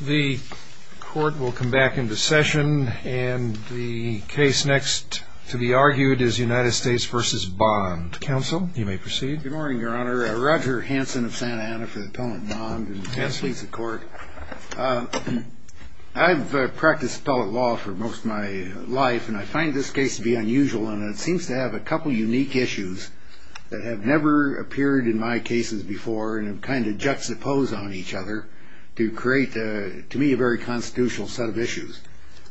The court will come back into session and the case next to be argued is United States v. Bond. Counsel, you may proceed. Good morning, Your Honor. Roger Hanson of Santa Ana for the appellant, Bond. Yes, please. He leads the court. I've practiced appellate law for most of my life and I find this case to be unusual and it seems to have a couple unique issues that have never appeared in my cases before and kind of juxtapose on each other to create, to me, a very constitutional set of issues.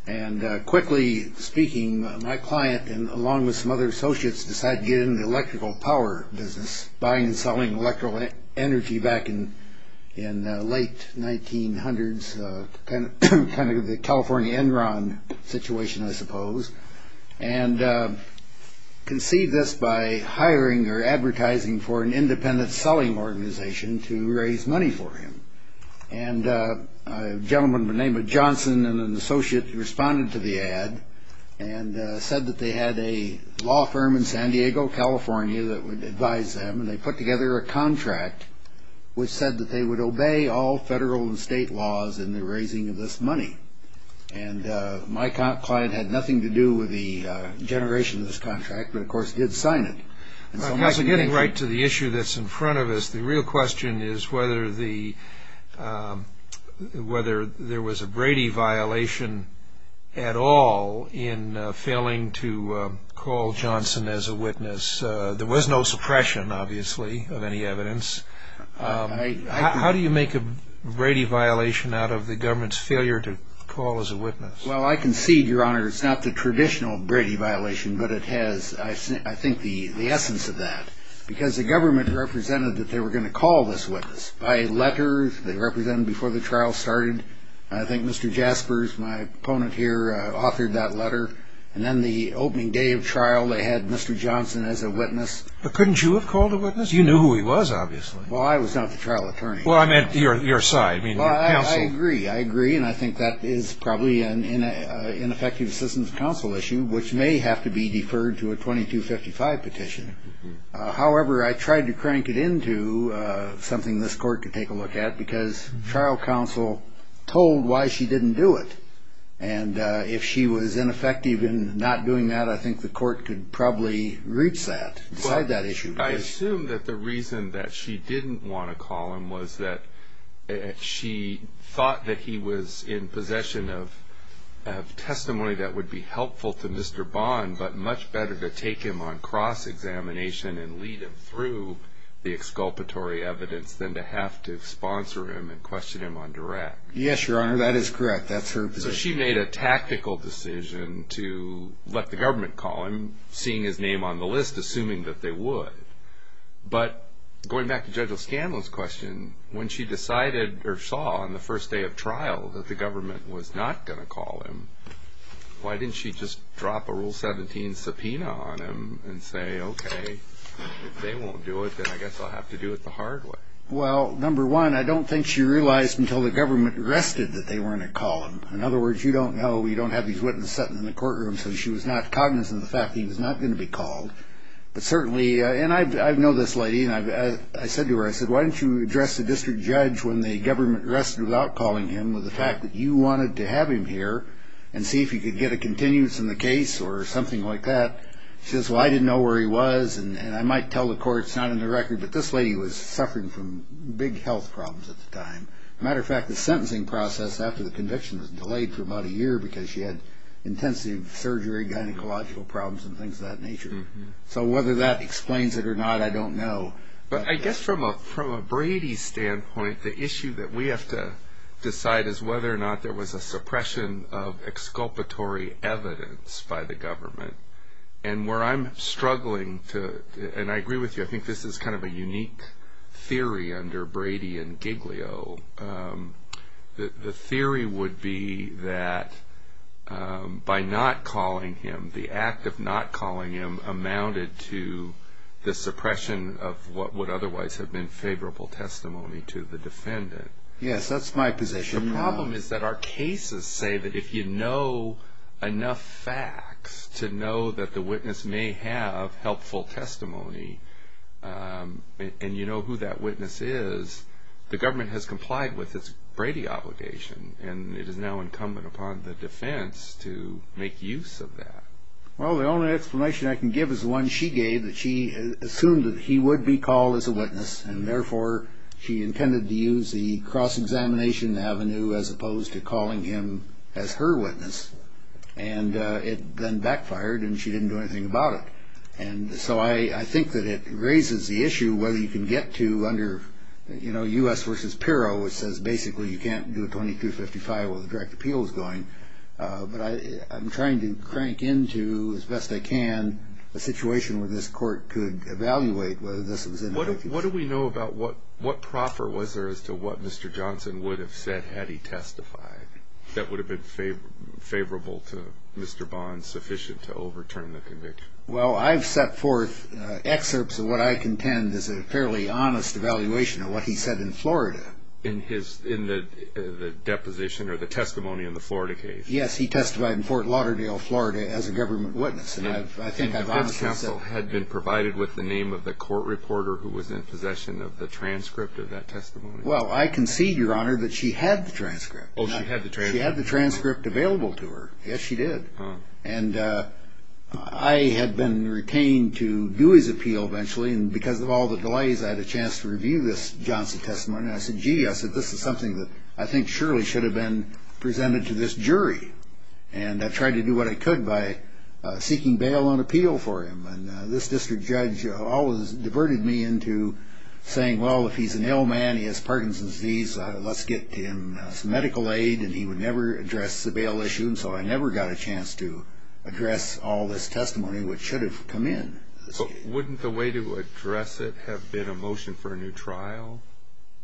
And quickly speaking, my client, along with some other associates, decided to get into the electrical power business, buying and selling electrical energy back in the late 1900s, kind of the California Enron situation, I suppose, and conceived this by hiring or advertising for an independent selling organization to raise money for him. And a gentleman by the name of Johnson and an associate responded to the ad and said that they had a law firm in San Diego, California, that would advise them and they put together a contract which said that they would obey all federal and state laws in the raising of this money. And my client had nothing to do with the generation of this contract but, of course, did sign it. Getting right to the issue that's in front of us, the real question is whether there was a Brady violation at all in failing to call Johnson as a witness. There was no suppression, obviously, of any evidence. How do you make a Brady violation out of the government's failure to call as a witness? Well, I concede, Your Honor, it's not the traditional Brady violation, but it has, I think, the essence of that. Because the government represented that they were going to call this witness by a letter they represented before the trial started. I think Mr. Jaspers, my opponent here, authored that letter. And then the opening day of trial, they had Mr. Johnson as a witness. But couldn't you have called a witness? You knew who he was, obviously. Well, I was not the trial attorney. Well, I meant your side. Well, I agree. I agree, and I think that is probably an ineffective assistance counsel issue which may have to be deferred to a 2255 petition. However, I tried to crank it into something this court could take a look at because trial counsel told why she didn't do it. And if she was ineffective in not doing that, I think the court could probably reach that, decide that issue. I assume that the reason that she didn't want to call him was that she thought that he was in possession of testimony that would be helpful to Mr. Bond, but much better to take him on cross-examination and lead him through the exculpatory evidence than to have to sponsor him and question him on direct. Yes, Your Honor, that is correct. That's her position. So she made a tactical decision to let the government call him, seeing his name on the list, assuming that they would. But going back to Judge O'Scanlon's question, when she decided or saw on the first day of trial that the government was not going to call him, why didn't she just drop a Rule 17 subpoena on him and say, okay, if they won't do it, then I guess I'll have to do it the hard way? Well, number one, I don't think she realized until the government rested that they weren't going to call him. In other words, you don't know, you don't have these witnesses sitting in the courtroom, so she was not cognizant of the fact that he was not going to be called. But certainly, and I know this lady, and I said to her, I said, why don't you address the district judge when the government rested without calling him with the fact that you wanted to have him here and see if you could get a continuance in the case or something like that. She says, well, I didn't know where he was, and I might tell the court it's not in the record, but this lady was suffering from big health problems at the time. As a matter of fact, the sentencing process after the conviction was delayed for about a year because she had intensive surgery, gynecological problems, and things of that nature. So whether that explains it or not, I don't know. But I guess from a Brady standpoint, the issue that we have to decide is whether or not there was a suppression of exculpatory evidence by the government. And where I'm struggling to, and I agree with you, I think this is kind of a unique theory under Brady and Giglio, the theory would be that by not calling him, the act of not calling him, amounted to the suppression of what would otherwise have been favorable testimony to the defendant. Yes, that's my position. The problem is that our cases say that if you know enough facts to know that the witness may have helpful testimony, and you know who that witness is, the government has complied with its Brady obligation, and it is now incumbent upon the defense to make use of that. Well, the only explanation I can give is the one she gave, that she assumed that he would be called as a witness, and therefore she intended to use the cross-examination avenue as opposed to calling him as her witness. And it then backfired, and she didn't do anything about it. And so I think that it raises the issue whether you can get to under, you know, U.S. v. Pirro, which says basically you can't do a 2255 where the direct appeal is going. But I'm trying to crank into, as best I can, a situation where this court could evaluate whether this was in effect. What do we know about what proffer was there as to what Mr. Johnson would have said had he testified that would have been favorable to Mr. Bond, sufficient to overturn the conviction? Well, I've set forth excerpts of what I contend is a fairly honest evaluation of what he said in Florida. In the deposition or the testimony in the Florida case? Yes, he testified in Fort Lauderdale, Florida, as a government witness. And defense counsel had been provided with the name of the court reporter who was in possession of the transcript of that testimony? Well, I concede, Your Honor, that she had the transcript. Oh, she had the transcript? She had the transcript available to her. Yes, she did. And I had been retained to do his appeal eventually, and because of all the delays, I had a chance to review this Johnson testimony. And I said, gee, this is something that I think surely should have been presented to this jury. And I tried to do what I could by seeking bail on appeal for him. And this district judge always diverted me into saying, well, if he's an ill man, he has Parkinson's disease, let's get him some medical aid, and he would never address the bail issue. And so I never got a chance to address all this testimony which should have come in. But wouldn't the way to address it have been a motion for a new trial?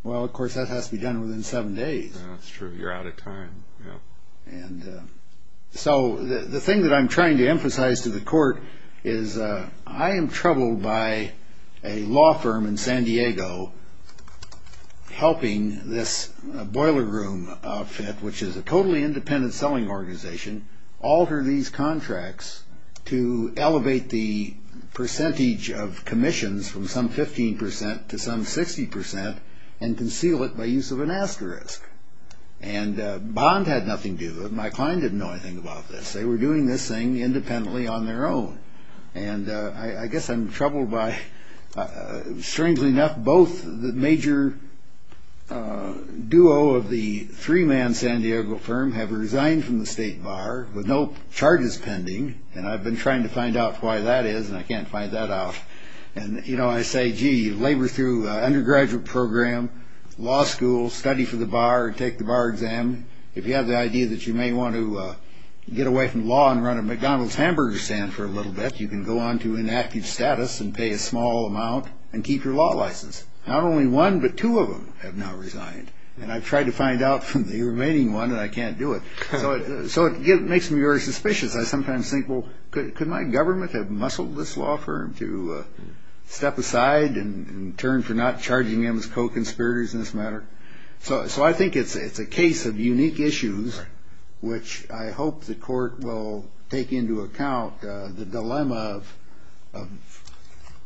Well, of course, that has to be done within seven days. That's true. You're out of time. And so the thing that I'm trying to emphasize to the court is I am troubled by a law firm in San Diego helping this boiler room outfit, which is a totally independent selling organization, alter these contracts to elevate the percentage of commissions from some 15 percent to some 60 percent and conceal it by use of an asterisk. And Bond had nothing to do with it. My client didn't know anything about this. They were doing this thing independently on their own. And I guess I'm troubled by, strangely enough, both the major duo of the three-man San Diego firm have resigned from the state bar with no charges pending. And I've been trying to find out why that is, and I can't find that out. And, you know, I say, gee, labor through undergraduate program, law school, study for the bar, take the bar exam. If you have the idea that you may want to get away from law and run a McDonald's hamburger stand for a little bit, you can go on to inactive status and pay a small amount and keep your law license. Not only one, but two of them have now resigned. And I've tried to find out from the remaining one, and I can't do it. So it makes me very suspicious. I sometimes think, well, could my government have muscled this law firm to step aside and turn for not charging him as co-conspirators in this matter? So I think it's a case of unique issues, which I hope the court will take into account, the dilemma of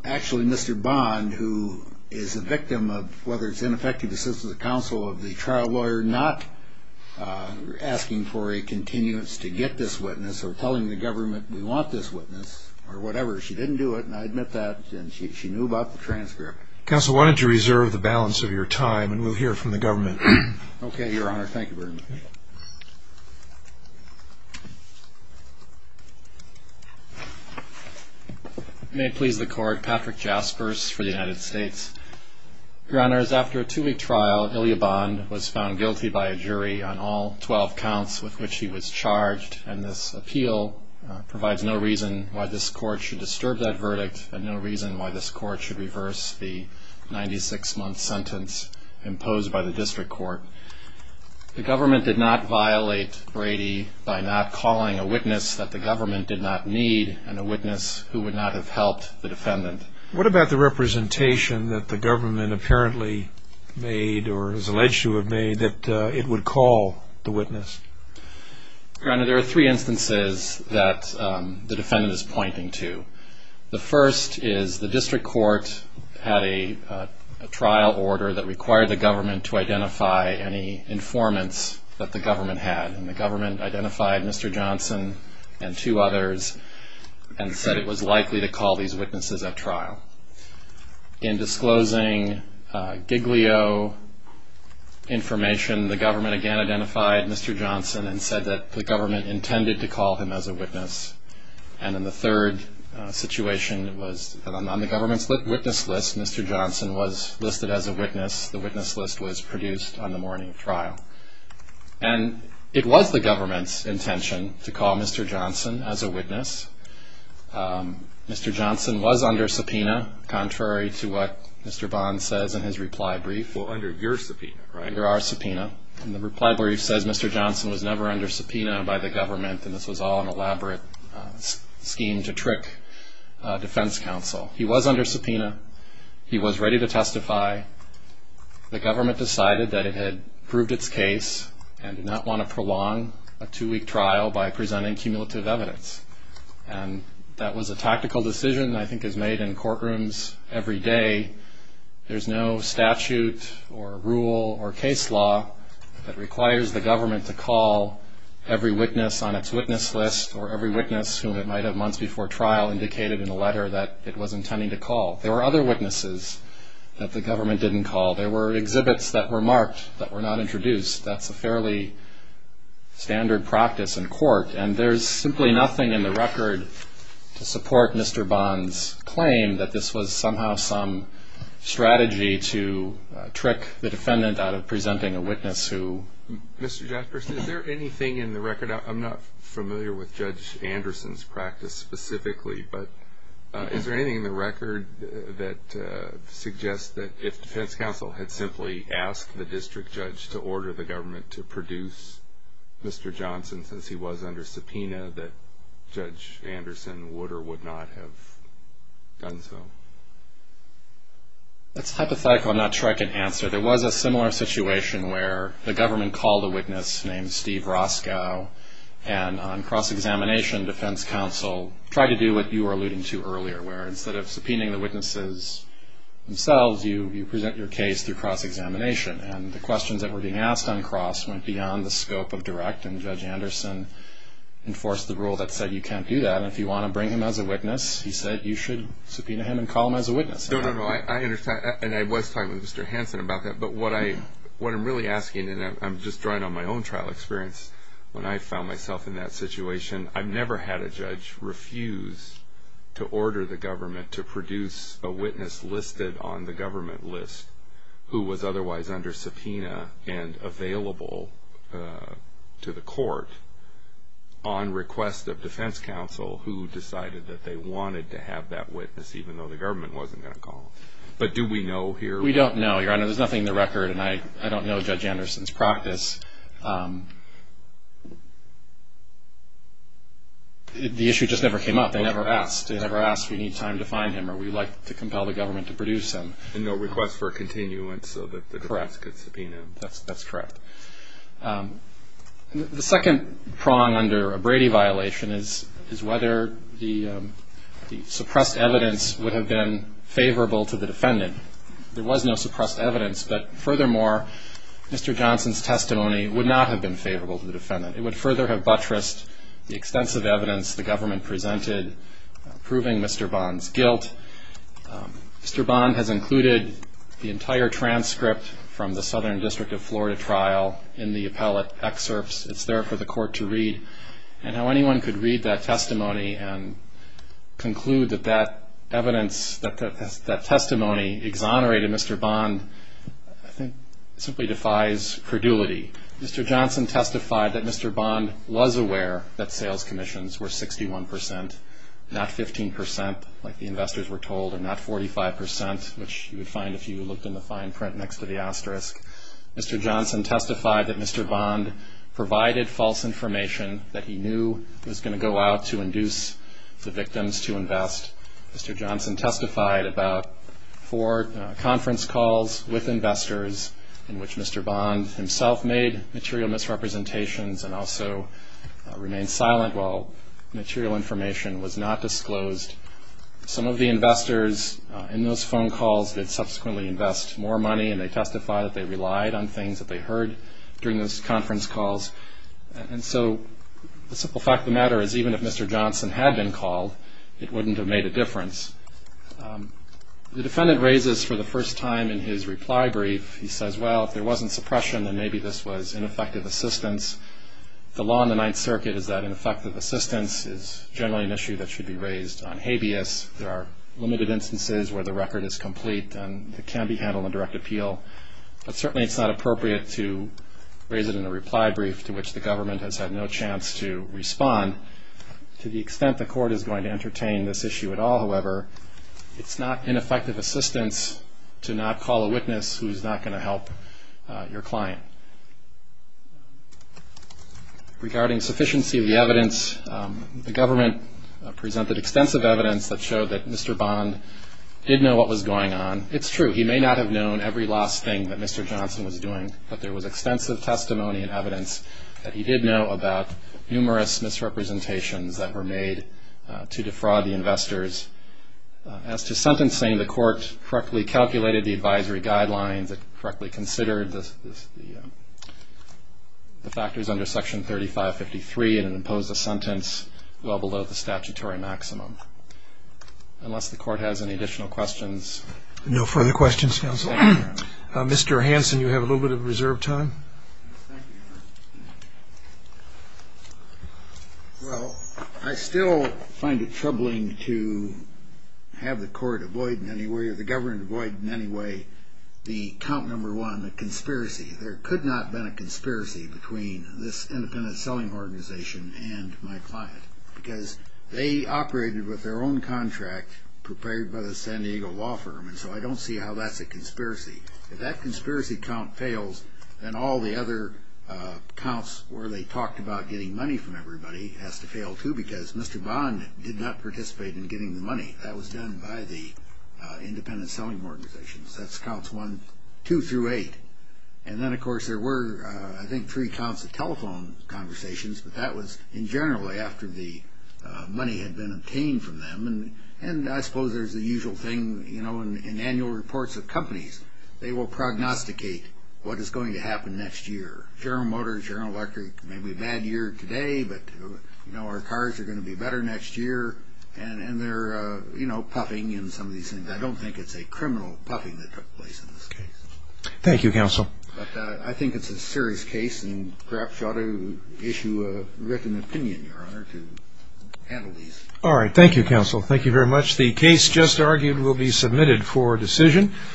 actually Mr. Bond, who is a victim of whether it's ineffective assistance of counsel, of the trial lawyer not asking for a continuance to get this witness or telling the government we want this witness or whatever. She didn't do it, and I admit that, and she knew about the transcript. Counsel, why don't you reserve the balance of your time, and we'll hear from the government. Okay, Your Honor. Thank you very much. May it please the Court, Patrick Jaspers for the United States. Your Honors, after a two-week trial, Ilya Bond was found guilty by a jury on all 12 counts with which he was charged, and this appeal provides no reason why this court should disturb that verdict and no reason why this court should reverse the 96-month sentence imposed by the district court. The government did not violate Brady by not calling a witness that the government did not need and a witness who would not have helped the defendant. What about the representation that the government apparently made or is alleged to have made that it would call the witness? Your Honor, there are three instances that the defendant is pointing to. The first is the district court had a trial order that required the government to identify any informants that the government had, and the government identified Mr. Johnson and two others and said it was likely to call these witnesses at trial. In disclosing Giglio information, the government again identified Mr. Johnson and said that the government intended to call him as a witness. And then the third situation was that on the government's witness list, Mr. Johnson was listed as a witness. The witness list was produced on the morning of trial. And it was the government's intention to call Mr. Johnson as a witness. Mr. Johnson was under subpoena, contrary to what Mr. Bond says in his reply brief. Well, under your subpoena, right? Under our subpoena. And the reply brief says Mr. Johnson was never under subpoena by the government, and this was all an elaborate scheme to trick defense counsel. He was under subpoena. He was ready to testify. The government decided that it had proved its case and did not want to prolong a two-week trial by presenting cumulative evidence. And that was a tactical decision that I think is made in courtrooms every day. There's no statute or rule or case law that requires the government to call every witness on its witness list or every witness whom it might have months before trial indicated in a letter that it was intending to call. There were other witnesses that the government didn't call. There were exhibits that were marked that were not introduced. That's a fairly standard practice in court. And there's simply nothing in the record to support Mr. Bond's claim that this was somehow some strategy to trick the defendant out of presenting a witness who... Mr. Jefferson, is there anything in the record? I'm not familiar with Judge Anderson's practice specifically, but is there anything in the record that suggests that if defense counsel had simply asked the district judge to order the government to produce Mr. Johnson since he was under subpoena that Judge Anderson would or would not have done so? That's hypothetical. I'm not sure I can answer. There was a similar situation where the government called a witness named Steve Roscoe and on cross-examination, defense counsel tried to do what you were alluding to earlier, where instead of subpoenaing the witnesses themselves, you present your case through cross-examination. And the questions that were being asked on cross went beyond the scope of direct, and Judge Anderson enforced the rule that said you can't do that. And if you want to bring him as a witness, he said you should subpoena him and call him as a witness. No, no, no. And I was talking with Mr. Hanson about that. But what I'm really asking, and I'm just drawing on my own trial experience, when I found myself in that situation, I've never had a judge refuse to order the government to produce a witness listed on the government list who was otherwise under subpoena and available to the court on request of defense counsel who decided that they wanted to have that witness even though the government wasn't going to call him. But do we know here? We don't know, Your Honor. There's nothing in the record, and I don't know Judge Anderson's practice. The issue just never came up. They never asked. They never asked, we need time to find him, or we'd like to compel the government to produce him. And no request for a continuance so that the government could subpoena him. Correct. That's correct. The second prong under a Brady violation is whether the suppressed evidence would have been favorable to the defendant. There was no suppressed evidence, but furthermore, Mr. Johnson's testimony would not have been favorable to the defendant. It would further have buttressed the extensive evidence the government presented proving Mr. Bond's guilt. Mr. Bond has included the entire transcript from the Southern District of Florida trial in the appellate excerpts. It's there for the court to read. And how anyone could read that testimony and conclude that that evidence, that testimony exonerated Mr. Bond, I think simply defies credulity. Mr. Johnson testified that Mr. Bond was aware that sales commissions were 61%, not 15%, like the investors were told, and not 45%, which you would find if you looked in the fine print next to the asterisk. Mr. Johnson testified that Mr. Bond provided false information that he knew was going to go out to induce the victims to invest. Mr. Johnson testified about four conference calls with investors in which Mr. Bond himself made material misrepresentations and also remained silent while material information was not disclosed. Some of the investors in those phone calls did subsequently invest more money, and they testified that they relied on things that they heard during those conference calls. And so the simple fact of the matter is even if Mr. Johnson had been called, it wouldn't have made a difference. The defendant raises for the first time in his reply brief, he says, well, if there wasn't suppression, then maybe this was ineffective assistance. The law in the Ninth Circuit is that ineffective assistance is generally an issue that should be raised on habeas. There are limited instances where the record is complete, and it can be handled in direct appeal. But certainly it's not appropriate to raise it in a reply brief to which the government has had no chance to respond. To the extent the court is going to entertain this issue at all, however, it's not ineffective assistance to not call a witness who's not going to help your client. Regarding sufficiency of the evidence, the government presented extensive evidence that showed that Mr. Bond did know what was going on. It's true, he may not have known every last thing that Mr. Johnson was doing, but there was extensive testimony and evidence that he did know about numerous misrepresentations that were made to defraud the investors. As to sentencing, the court correctly calculated the advisory guidelines, it correctly considered the factors under Section 3553, and it imposed a sentence well below the statutory maximum. Unless the court has any additional questions. No further questions, counsel. Mr. Hanson, you have a little bit of reserve time. Thank you, Your Honor. Well, I still find it troubling to have the court avoid in any way, or the government avoid in any way, the count number one, the conspiracy. There could not have been a conspiracy between this independent selling organization and my client, because they operated with their own contract prepared by the San Diego law firm, If that conspiracy count fails, then all the other counts where they talked about getting money from everybody has to fail too, because Mr. Bond did not participate in getting the money. That was done by the independent selling organizations. That's counts one, two through eight. And then, of course, there were, I think, three counts of telephone conversations, but that was in general after the money had been obtained from them. And I suppose there's the usual thing in annual reports of companies. They will prognosticate what is going to happen next year. General Motors, General Electric, maybe a bad year today, but our cars are going to be better next year, and they're puffing and some of these things. I don't think it's a criminal puffing that took place in this case. Thank you, counsel. But I think it's a serious case, and perhaps you ought to issue a written opinion, Your Honor, to handle these. All right. Thank you, counsel. Thank you very much. The case just argued will be submitted for decision.